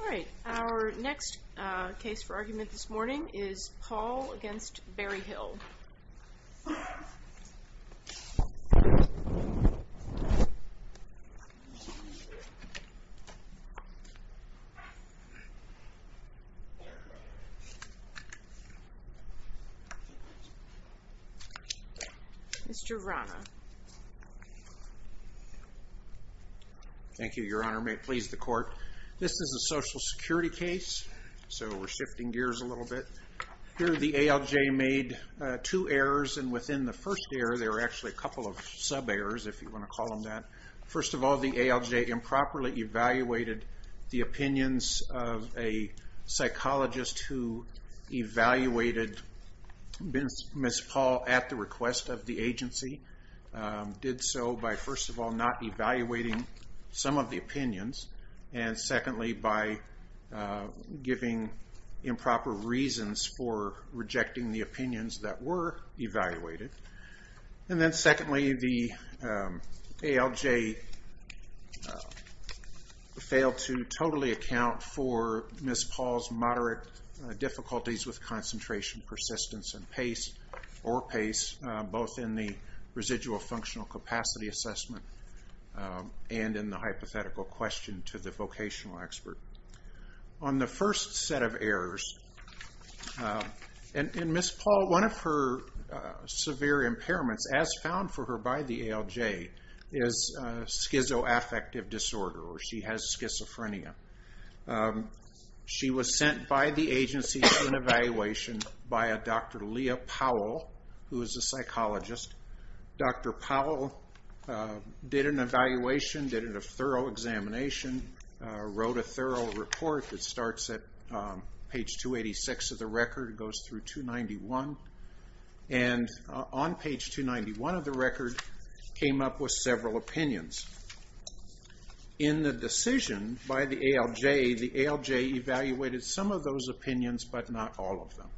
Alright, our next case for argument this morning is Paul v. Berryhill. Mr. Rana. Thank you, your honor. May it please the court. This is a social security case, so we're shifting gears a little bit. Here the ALJ made two errors, and within the first error, there are actually a couple of sub-errors, if you want to call them that. First of all, the ALJ improperly evaluated the opinions of a psychologist who evaluated Ms. Paul at the request of the agency. They did so by, first of all, not evaluating some of the opinions, and secondly by giving improper reasons for rejecting the opinions that were evaluated. And then secondly, the ALJ failed to totally account for Ms. Paul's moderate difficulties with concentration, persistence, and pace, or pace, both in the residual functional capacity assessment and in the hypothetical question to the vocational expert. On the first set of errors, in Ms. Paul, one of her severe impairments, as found for her by the ALJ, is schizoaffective disorder, or she has schizophrenia. She was sent by the agency to an evaluation by a Dr. Leah Powell, who is a psychologist. Dr. Powell did an evaluation, did a thorough examination, wrote a thorough report that starts at page 286 of the record, goes through 291, and on page 291 of the record came up with several opinions. In the decision by the ALJ, the ALJ evaluated some of those opinions, but not all of them.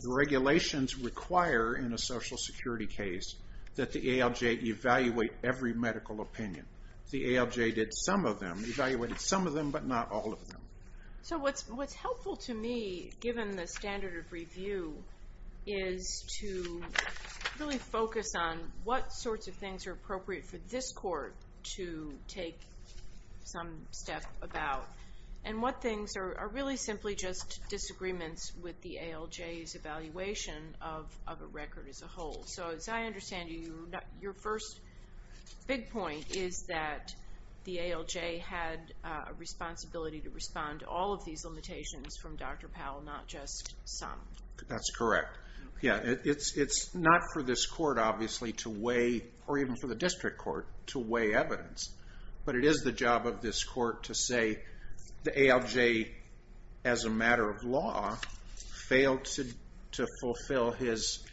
The regulations require, in a social security case, that the ALJ evaluate every medical opinion. The ALJ did some of them, evaluated some of them, but not all of them. So what's helpful to me, given the standard of review, is to really focus on what sorts of things are appropriate for this court to take some step about, and what things are really simply just disagreements with the ALJ's evaluation of a record as a whole. So as I understand it, your first big point is that the ALJ had a responsibility to respond to all of these limitations from Dr. Powell, not just some. That's correct. Yeah, it's not for this court, obviously, to weigh, or even for the district court, to weigh evidence. But it is the job of this court to say the ALJ, as a matter of law, failed to fulfill his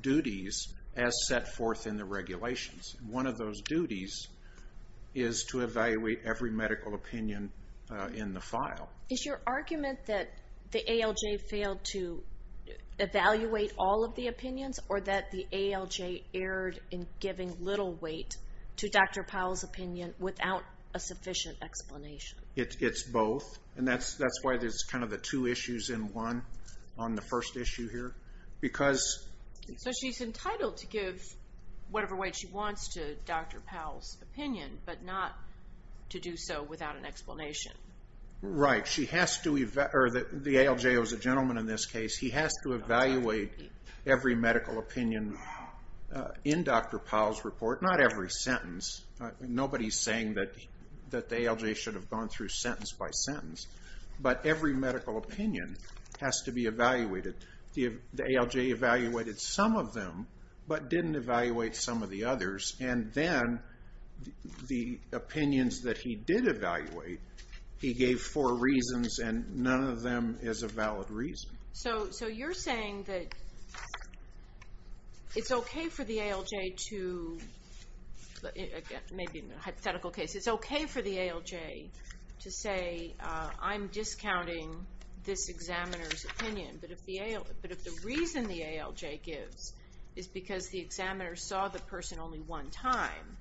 duties as set forth in the regulations. One of those duties is to evaluate every medical opinion in the file. Is your argument that the ALJ failed to evaluate all of the opinions, or that the ALJ erred in giving little weight to Dr. Powell's opinion without a sufficient explanation? It's both, and that's why there's kind of the two issues in one on the first issue here. Because... So she's entitled to give whatever weight she wants to Dr. Powell's opinion, but not to do so without an explanation. Right. The ALJ, as a gentleman in this case, he has to evaluate every medical opinion in Dr. Powell's report. Not every sentence. Nobody's saying that the ALJ should have gone through sentence by sentence. But every medical opinion has to be evaluated. The ALJ evaluated some of them, but didn't evaluate some of the others. And then the opinions that he did evaluate, he gave four reasons, and none of them is a valid reason. So you're saying that it's okay for the ALJ to, maybe in a hypothetical case, it's okay for the ALJ to say, I'm discounting this examiner's opinion, but if the reason the ALJ gives is because the examiner saw the person only one time,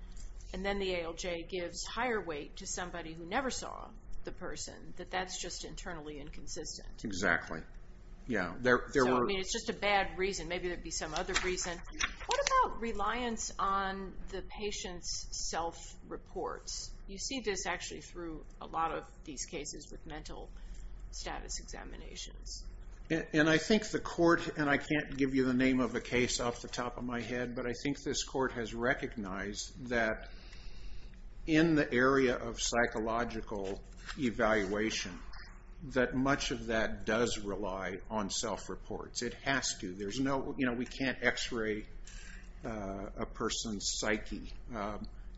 and then the ALJ gives higher weight to somebody who never saw the person, that that's just internally inconsistent. Exactly. Yeah, there were... I mean, it's just a bad reason. Maybe there'd be some other reason. What about reliance on the patient's self-reports? You see this actually through a lot of these cases with mental status examinations. And I think the court, and I can't give you the name of the case off the top of my head, but I think this court has recognized that in the area of psychological evaluation, that much of that does rely on self-reports. It has to. We can't x-ray a person's psyche.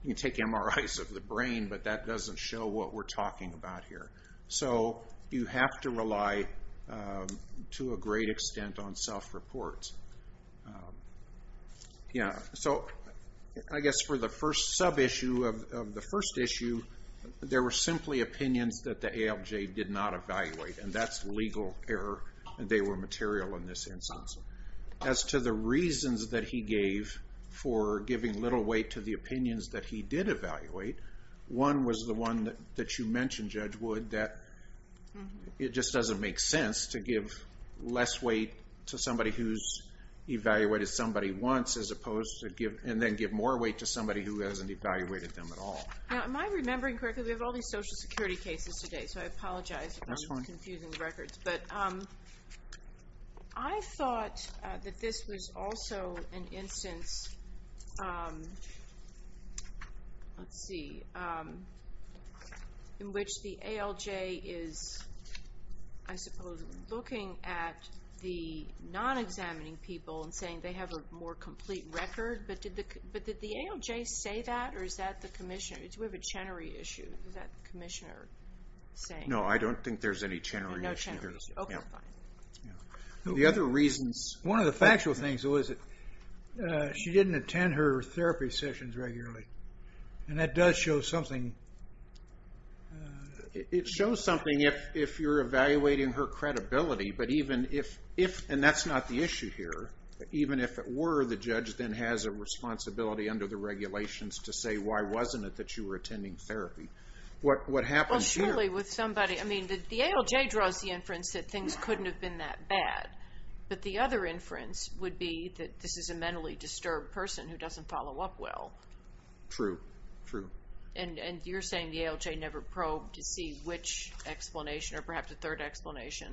You can take MRIs of the brain, but that doesn't show what we're talking about here. So you have to rely to a great extent on self-reports. Yeah, so I guess for the first sub-issue of the first issue, there were simply opinions that the ALJ did not evaluate, and that's legal error, and they were material in this instance. As to the reasons that he gave for giving little weight to the opinions that he did evaluate, one was the one that you mentioned, Judge Wood, that it just doesn't make sense to give less weight to somebody who's evaluated somebody once, as opposed to, and then give more weight to somebody who hasn't evaluated them at all. Now, am I remembering correctly? We have all these Social Security cases today, so I apologize for confusing the records. I thought that this was also an instance let's see in which the ALJ is I suppose looking at the non-examining people and saying they have a more complete record, but did the ALJ say that, or is that the Commissioner? Do we have a Chenery issue? Is that the Commissioner saying? No, I don't think there's any Chenery issue. Okay, fine. The other reasons, one of the factual things was that she didn't attend her therapy sessions regularly, and that does show something It shows something if you're evaluating her credibility, but even if, and that's not the issue here, even if it were the judge then has a responsibility under the regulations to say why wasn't it that you were attending therapy? What happens here? The ALJ draws the inference that things couldn't have been that bad, but the other inference would be that this is a mentally disturbed person who doesn't follow up well. True. And you're saying the ALJ never probed to see which explanation or perhaps a third explanation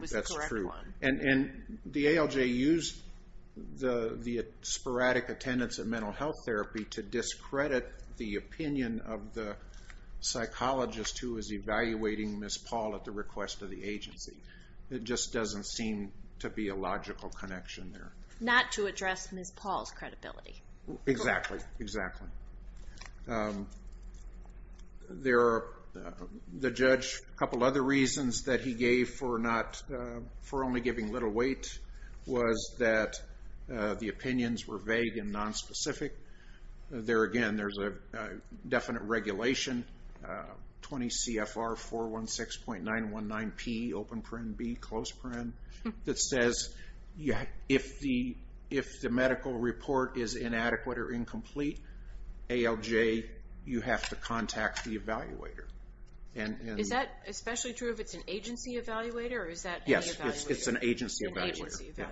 was the correct one. And the ALJ used the sporadic attendance at mental health therapy to discredit the opinion of the psychologist who was evaluating Ms. Paul at the request of the agency. It just doesn't seem to be a logical connection there. Not to address Ms. Paul's credibility. Exactly. Exactly. There are, the judge a couple other reasons that he gave for not, for only giving little weight was that the opinions were vague and non-specific. There again, there's a definite regulation, 20 CFR 416.919P open paren B, close paren, that says if the medical report is inadequate or incomplete, ALJ, you have to contact the evaluator. Is that especially true if it's an agency evaluator? Yes, it's an agency evaluator.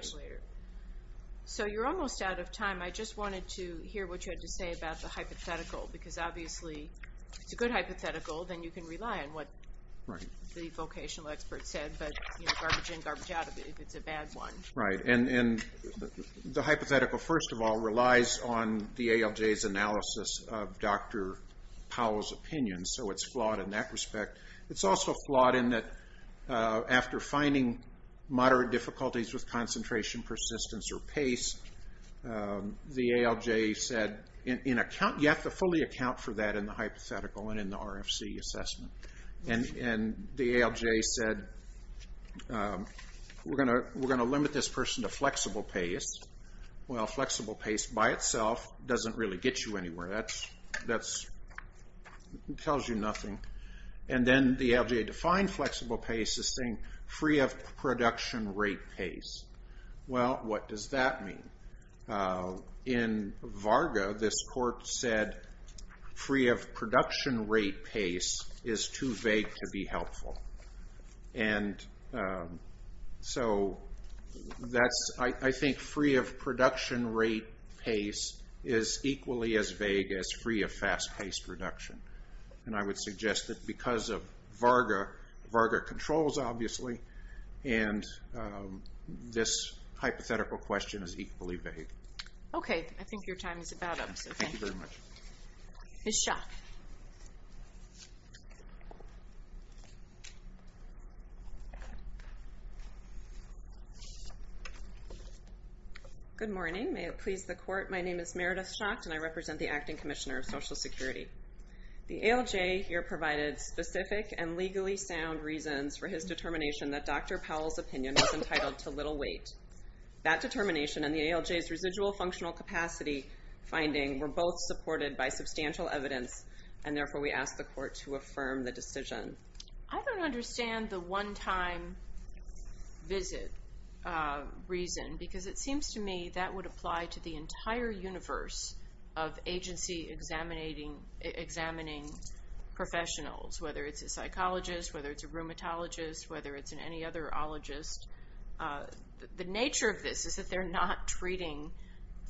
So you're almost out of time, I just wanted to hear what you had to say about the hypothetical, because obviously if it's a good hypothetical then you can rely on what the vocational expert said, but garbage in, garbage out if it's a bad one. Right, and the ALJ's analysis of Dr. Powell's opinion so it's flawed in that respect. It's also flawed in that after finding moderate difficulties with concentration, persistence or pace, the ALJ said you have to fully account for that in the hypothetical and in the RFC assessment and the ALJ said we're going to limit this person to flexible pace Well, flexible pace by itself doesn't really get you anywhere that tells you nothing and then the ALJ defined flexible pace as saying free of production rate pace. Well, what does that mean? In Varga, this court said free of production rate pace is too vague to be helpful and so I think free of production rate pace is equally as vague as free of fast pace reduction and I would suggest that because of Varga Varga controls obviously and this hypothetical question is equally vague. Okay, I think your time is about up, so thank you. Thank you very much. Ms. Schock Good morning. May it please the court My name is Meredith Schock and I represent the Acting Commissioner of Social Security The ALJ here provided specific and legally sound reasons for his determination that Dr. Powell's opinion was entitled to little weight That determination and the ALJ's residual functional capacity finding were both supported by substantial evidence and therefore we ask the court to affirm the decision. I don't understand the one time visit reason because it seems to me that would apply to the entire universe of agency examining professionals whether it's a psychologist, whether it's a rheumatologist, whether it's any other ologist The nature of this is that they're not treating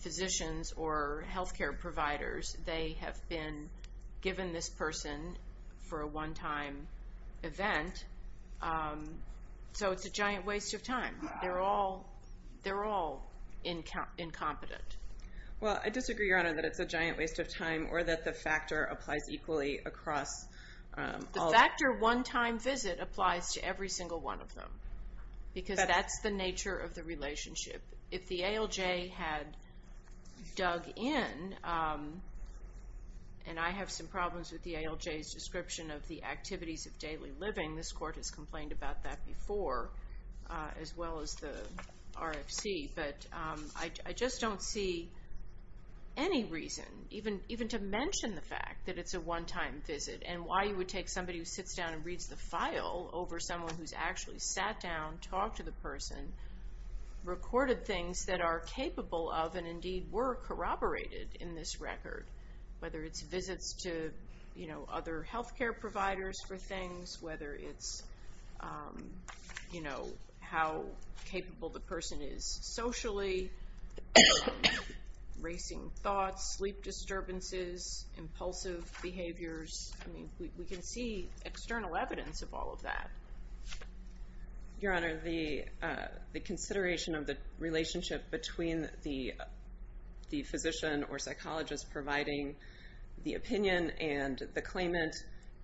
physicians or healthcare providers. They have been given this person for a one time event So it's a giant waste of time They're all incompetent Well I disagree your honor that it's a giant waste of time or that the factor applies equally The factor one time visit applies to every single one of them because that's the nature of the relationship If the ALJ had dug in and I have some problems with the ALJ's description of the activities of daily living, this court has complained about that before as well as the RFC I just don't see any reason even to mention the fact that it's a one time visit and why you would take somebody who sits down and reads the file over someone who's actually sat down, talked to the person recorded things that are capable of and indeed were corroborated in this record whether it's visits to other healthcare providers for things, whether it's how capable the person is socially, racing thoughts sleep disturbances, impulsive behaviors We can see external evidence of all of that Your honor, the consideration of the relationship between the physician or psychologist providing the opinion and the claimant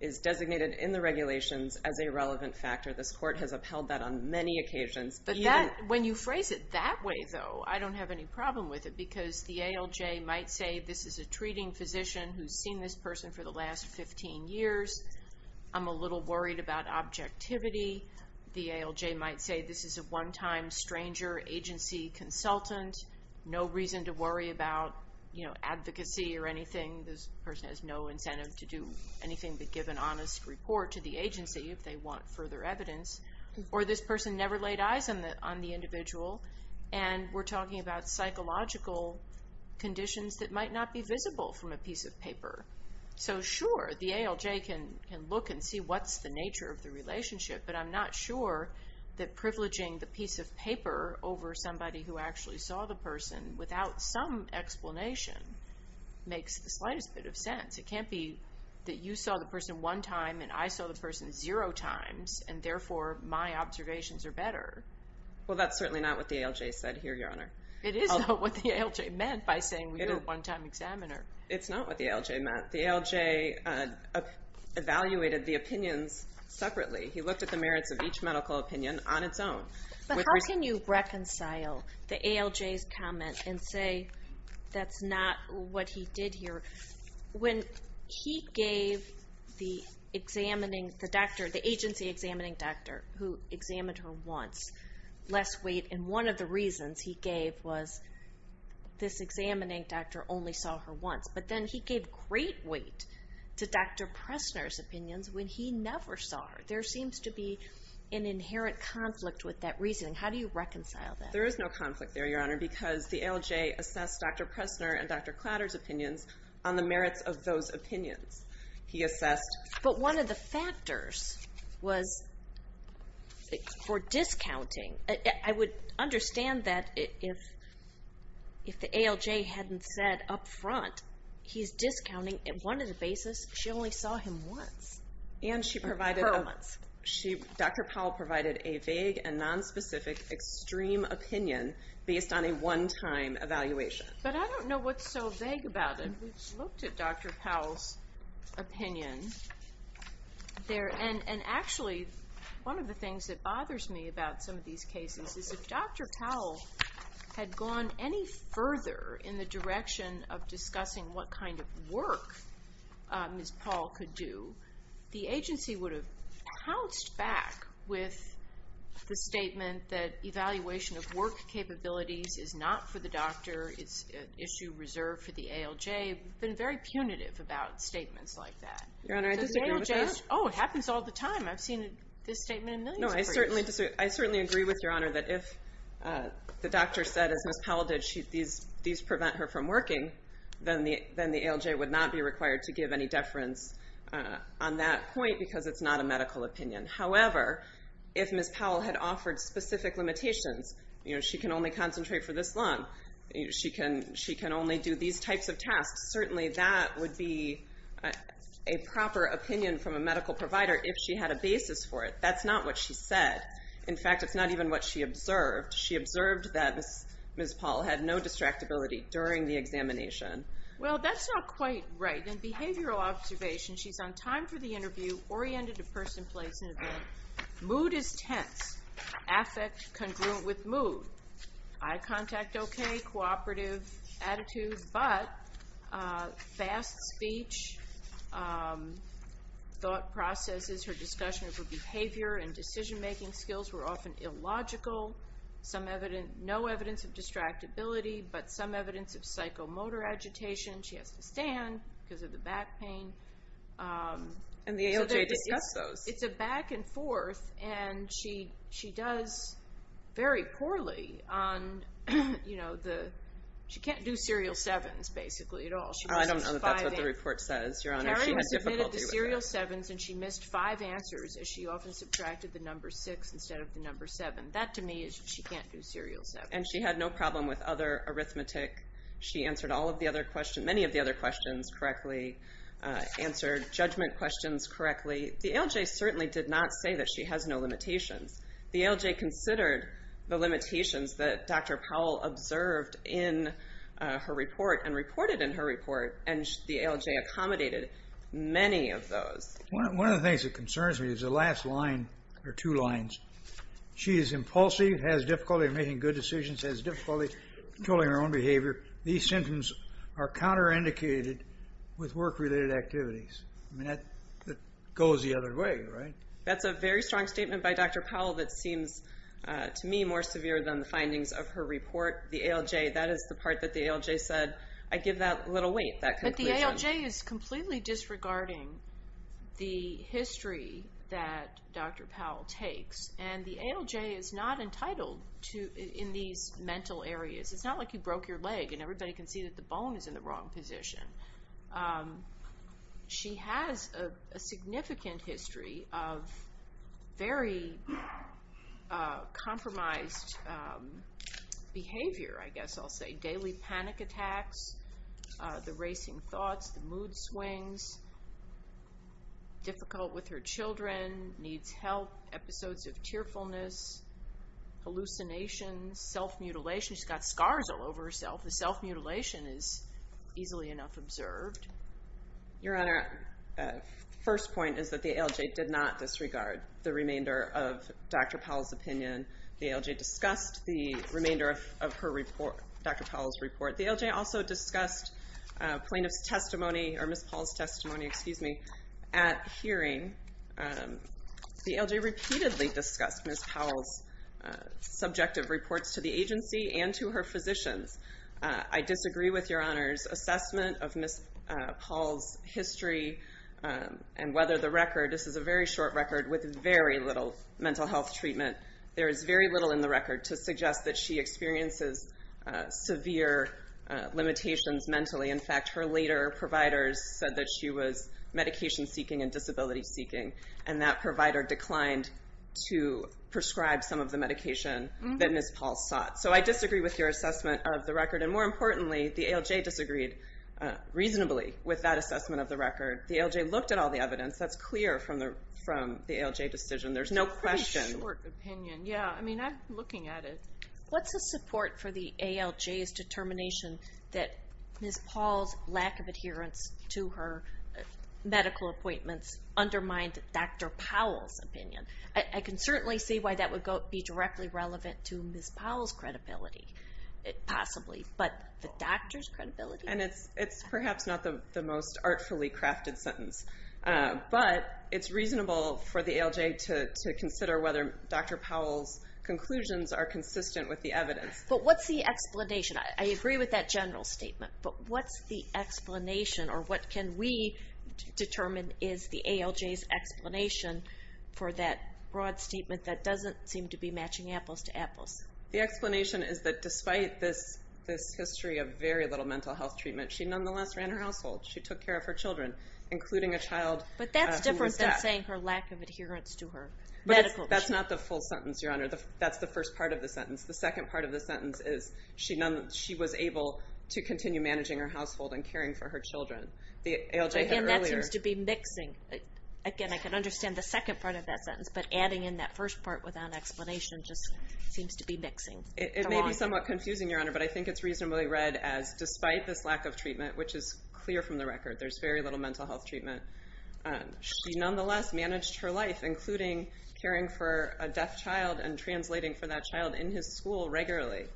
is designated in the regulations as a relevant factor. This court has upheld that on many occasions But when you phrase it that way though, I don't have any problem with it because the ALJ might say this is a treating physician who's seen this person for the last 15 years. I'm a little worried about objectivity. The ALJ might say this is a one time stranger agency consultant. No reason to worry about advocacy or anything. This person has no incentive to do anything but give an honest report to the agency if they want further evidence or this person never laid eyes on the individual and we're talking about psychological conditions that might not be visible from a piece of paper. So sure, the ALJ can look and see what's the nature of the relationship, but I'm not sure that privileging the piece of paper over somebody who actually saw the person without some explanation makes the slightest bit of sense It can't be that you saw the person one time and I saw the person zero times and therefore my observations are better Well that's certainly not what the ALJ said here, Your Honor. It is not what the ALJ meant by saying you're a one time examiner. It's not what the ALJ meant. The ALJ evaluated the opinions separately. He looked at the merits of each medical opinion on its own. But how can you reconcile the ALJ's comment and say that's not what he did here when he gave the agency examining doctor who examined her once less weight and one of the reasons he gave was this examining doctor only saw her once. But then he gave great weight to Dr. Pressner's opinions when he never saw her. There seems to be an inherent conflict with that There is no conflict there, Your Honor, because the ALJ assessed Dr. Pressner and Dr. Klatter's opinions on the merits of those opinions. He assessed But one of the factors was for discounting. I would understand that if the ALJ hadn't said up front he's discounting on one of the basis she only saw him once And she provided, Dr. Powell provided a vague and based on a one time evaluation. But I don't know what's so vague about it. We looked at Dr. Powell's opinion and actually one of the things that bothers me about some of these cases is if Dr. Powell had gone any further in the direction of discussing what kind of work Ms. Paul could do, the agency would have pounced back with the statement that evaluation of work capabilities is not for the doctor it's an issue reserved for the ALJ. They've been very punitive about statements like that. Your Honor, I disagree with that. Oh, it happens all the time. I've seen this statement in millions of cases. No, I certainly agree with Your Honor that if the doctor said, as Ms. Powell did, these prevent her from working, then the ALJ would not be required to give any deference on that point because it's not a medical opinion. However, if Ms. Powell had offered specific limitations, you know, she can only concentrate for this long. She can only do these types of tasks. Certainly that would be a proper opinion from a medical provider if she had a basis for it. That's not what she said. In fact, it's not even what she observed. She observed that Ms. Paul had no distractibility during the examination. Well, that's not quite right. In behavioral observation, she's on time for the interview, oriented to person, place, and event. Mood is tense. Affect congruent with mood. Eye contact okay. Cooperative attitude, but fast speech, thought processes, her discussion of her behavior and decision-making skills were often illogical. No evidence of distractibility, but some evidence of psychomotor agitation. She has to stand because of the back pain. And the ALJ discussed those. It's a back and forth and she does very poorly on, you know, she can't do serial sevens basically at all. I don't know if that's what the report says, Your Honor. She had difficulty with that. She submitted the serial sevens and she missed five answers as she often subtracted the number six instead of the number seven. That to me is she can't do serial sevens. And she had no problem with other arithmetic. She answered all of the other questions, many of the other questions correctly. Answered judgment questions correctly. The ALJ certainly did not say that she has no limitations. The ALJ considered the limitations that Dr. Powell observed in her report and reported in her report and the ALJ accommodated many of those. One of the things that concerns me is the last line or two lines. She is impulsive, has difficulty in making good decisions, has difficulty controlling her own behavior. These are indicated with work related activities. That goes the other way, right? That's a very strong statement by Dr. Powell that seems to me more severe than the findings of her report. The ALJ, that is the part that the ALJ said, I give that little weight. But the ALJ is completely disregarding the history that Dr. Powell takes and the ALJ is not entitled in these mental areas. It's not like you broke your leg and everybody can see that the bone is in the wrong position. She has a significant history of very compromised behavior, I guess I'll say. Daily panic attacks, the racing thoughts, the mood swings, difficult with her children, needs help, episodes of tearfulness, hallucinations, self-mutilation. She's got scars all over herself. The self-mutilation is easily enough observed. Your Honor, first point is that the ALJ did not disregard the remainder of Dr. Powell's opinion. The ALJ discussed the remainder of her report, Dr. Powell's report. The ALJ also discussed plaintiff's testimony or Ms. Powell's testimony, excuse me, at hearing. The ALJ repeatedly discussed Ms. Powell's subjective reports to the agency and to her physicians. I disagree with Your Honor's assessment of Ms. Powell's history and whether the record, this is a very short record with very little mental health treatment. There is very little in the record to suggest that she experiences severe limitations mentally. In fact, her later providers said that she was medication seeking and disability seeking, and that provider declined to that Ms. Powell sought. So I disagree with your assessment of the record, and more importantly the ALJ disagreed reasonably with that assessment of the record. The ALJ looked at all the evidence. That's clear from the ALJ decision. There's no question. It's a pretty short opinion. Yeah, I mean, I'm looking at it. What's the support for the ALJ's determination that Ms. Powell's lack of adherence to her medical appointments undermined Dr. Powell's opinion? I can certainly see why that would be directly relevant to Ms. Powell's credibility possibly, but the doctor's credibility? And it's perhaps not the most artfully crafted sentence, but it's reasonable for the ALJ to consider whether Dr. Powell's conclusions are consistent with the evidence. But what's the explanation? I agree with that general statement, but what's the explanation or what can we determine is the ALJ's explanation for that broad statement that doesn't seem to be matching apples to apples? The explanation is that despite this history of very little mental health treatment, she nonetheless ran her household. She took care of her children including a child who was deaf. But that's different than saying her lack of adherence to her medical... That's not the full sentence, Your Honor. That's the first part of the sentence. The second part of the sentence is she was able to continue managing her household and caring for her children. The ALJ had earlier... Again, that seems to be mixing. Again, I can understand the second part of that sentence, but adding in that first part without explanation just seems to be mixing. It may be somewhat confusing, Your Honor, but I think it's reasonably read as despite this lack of treatment, which is clear from the record. There's very little mental health treatment. She nonetheless managed her life, including caring for a deaf child and translating for that child in his school regularly,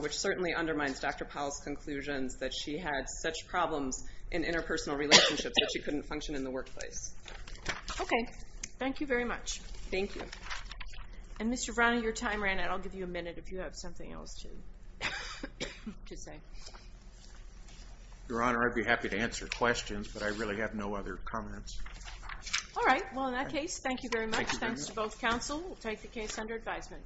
which certainly undermines Dr. Powell's conclusions that she had such problems in the workplace. Okay. Thank you very much. Thank you. And Mr. Vrana, your time ran out. I'll give you a minute if you have something else to say. Your Honor, I'd be happy to answer questions, but I really have no other comments. All right. Well, in that case, thank you very much. Thanks to both counsel. We'll take the case under advisement.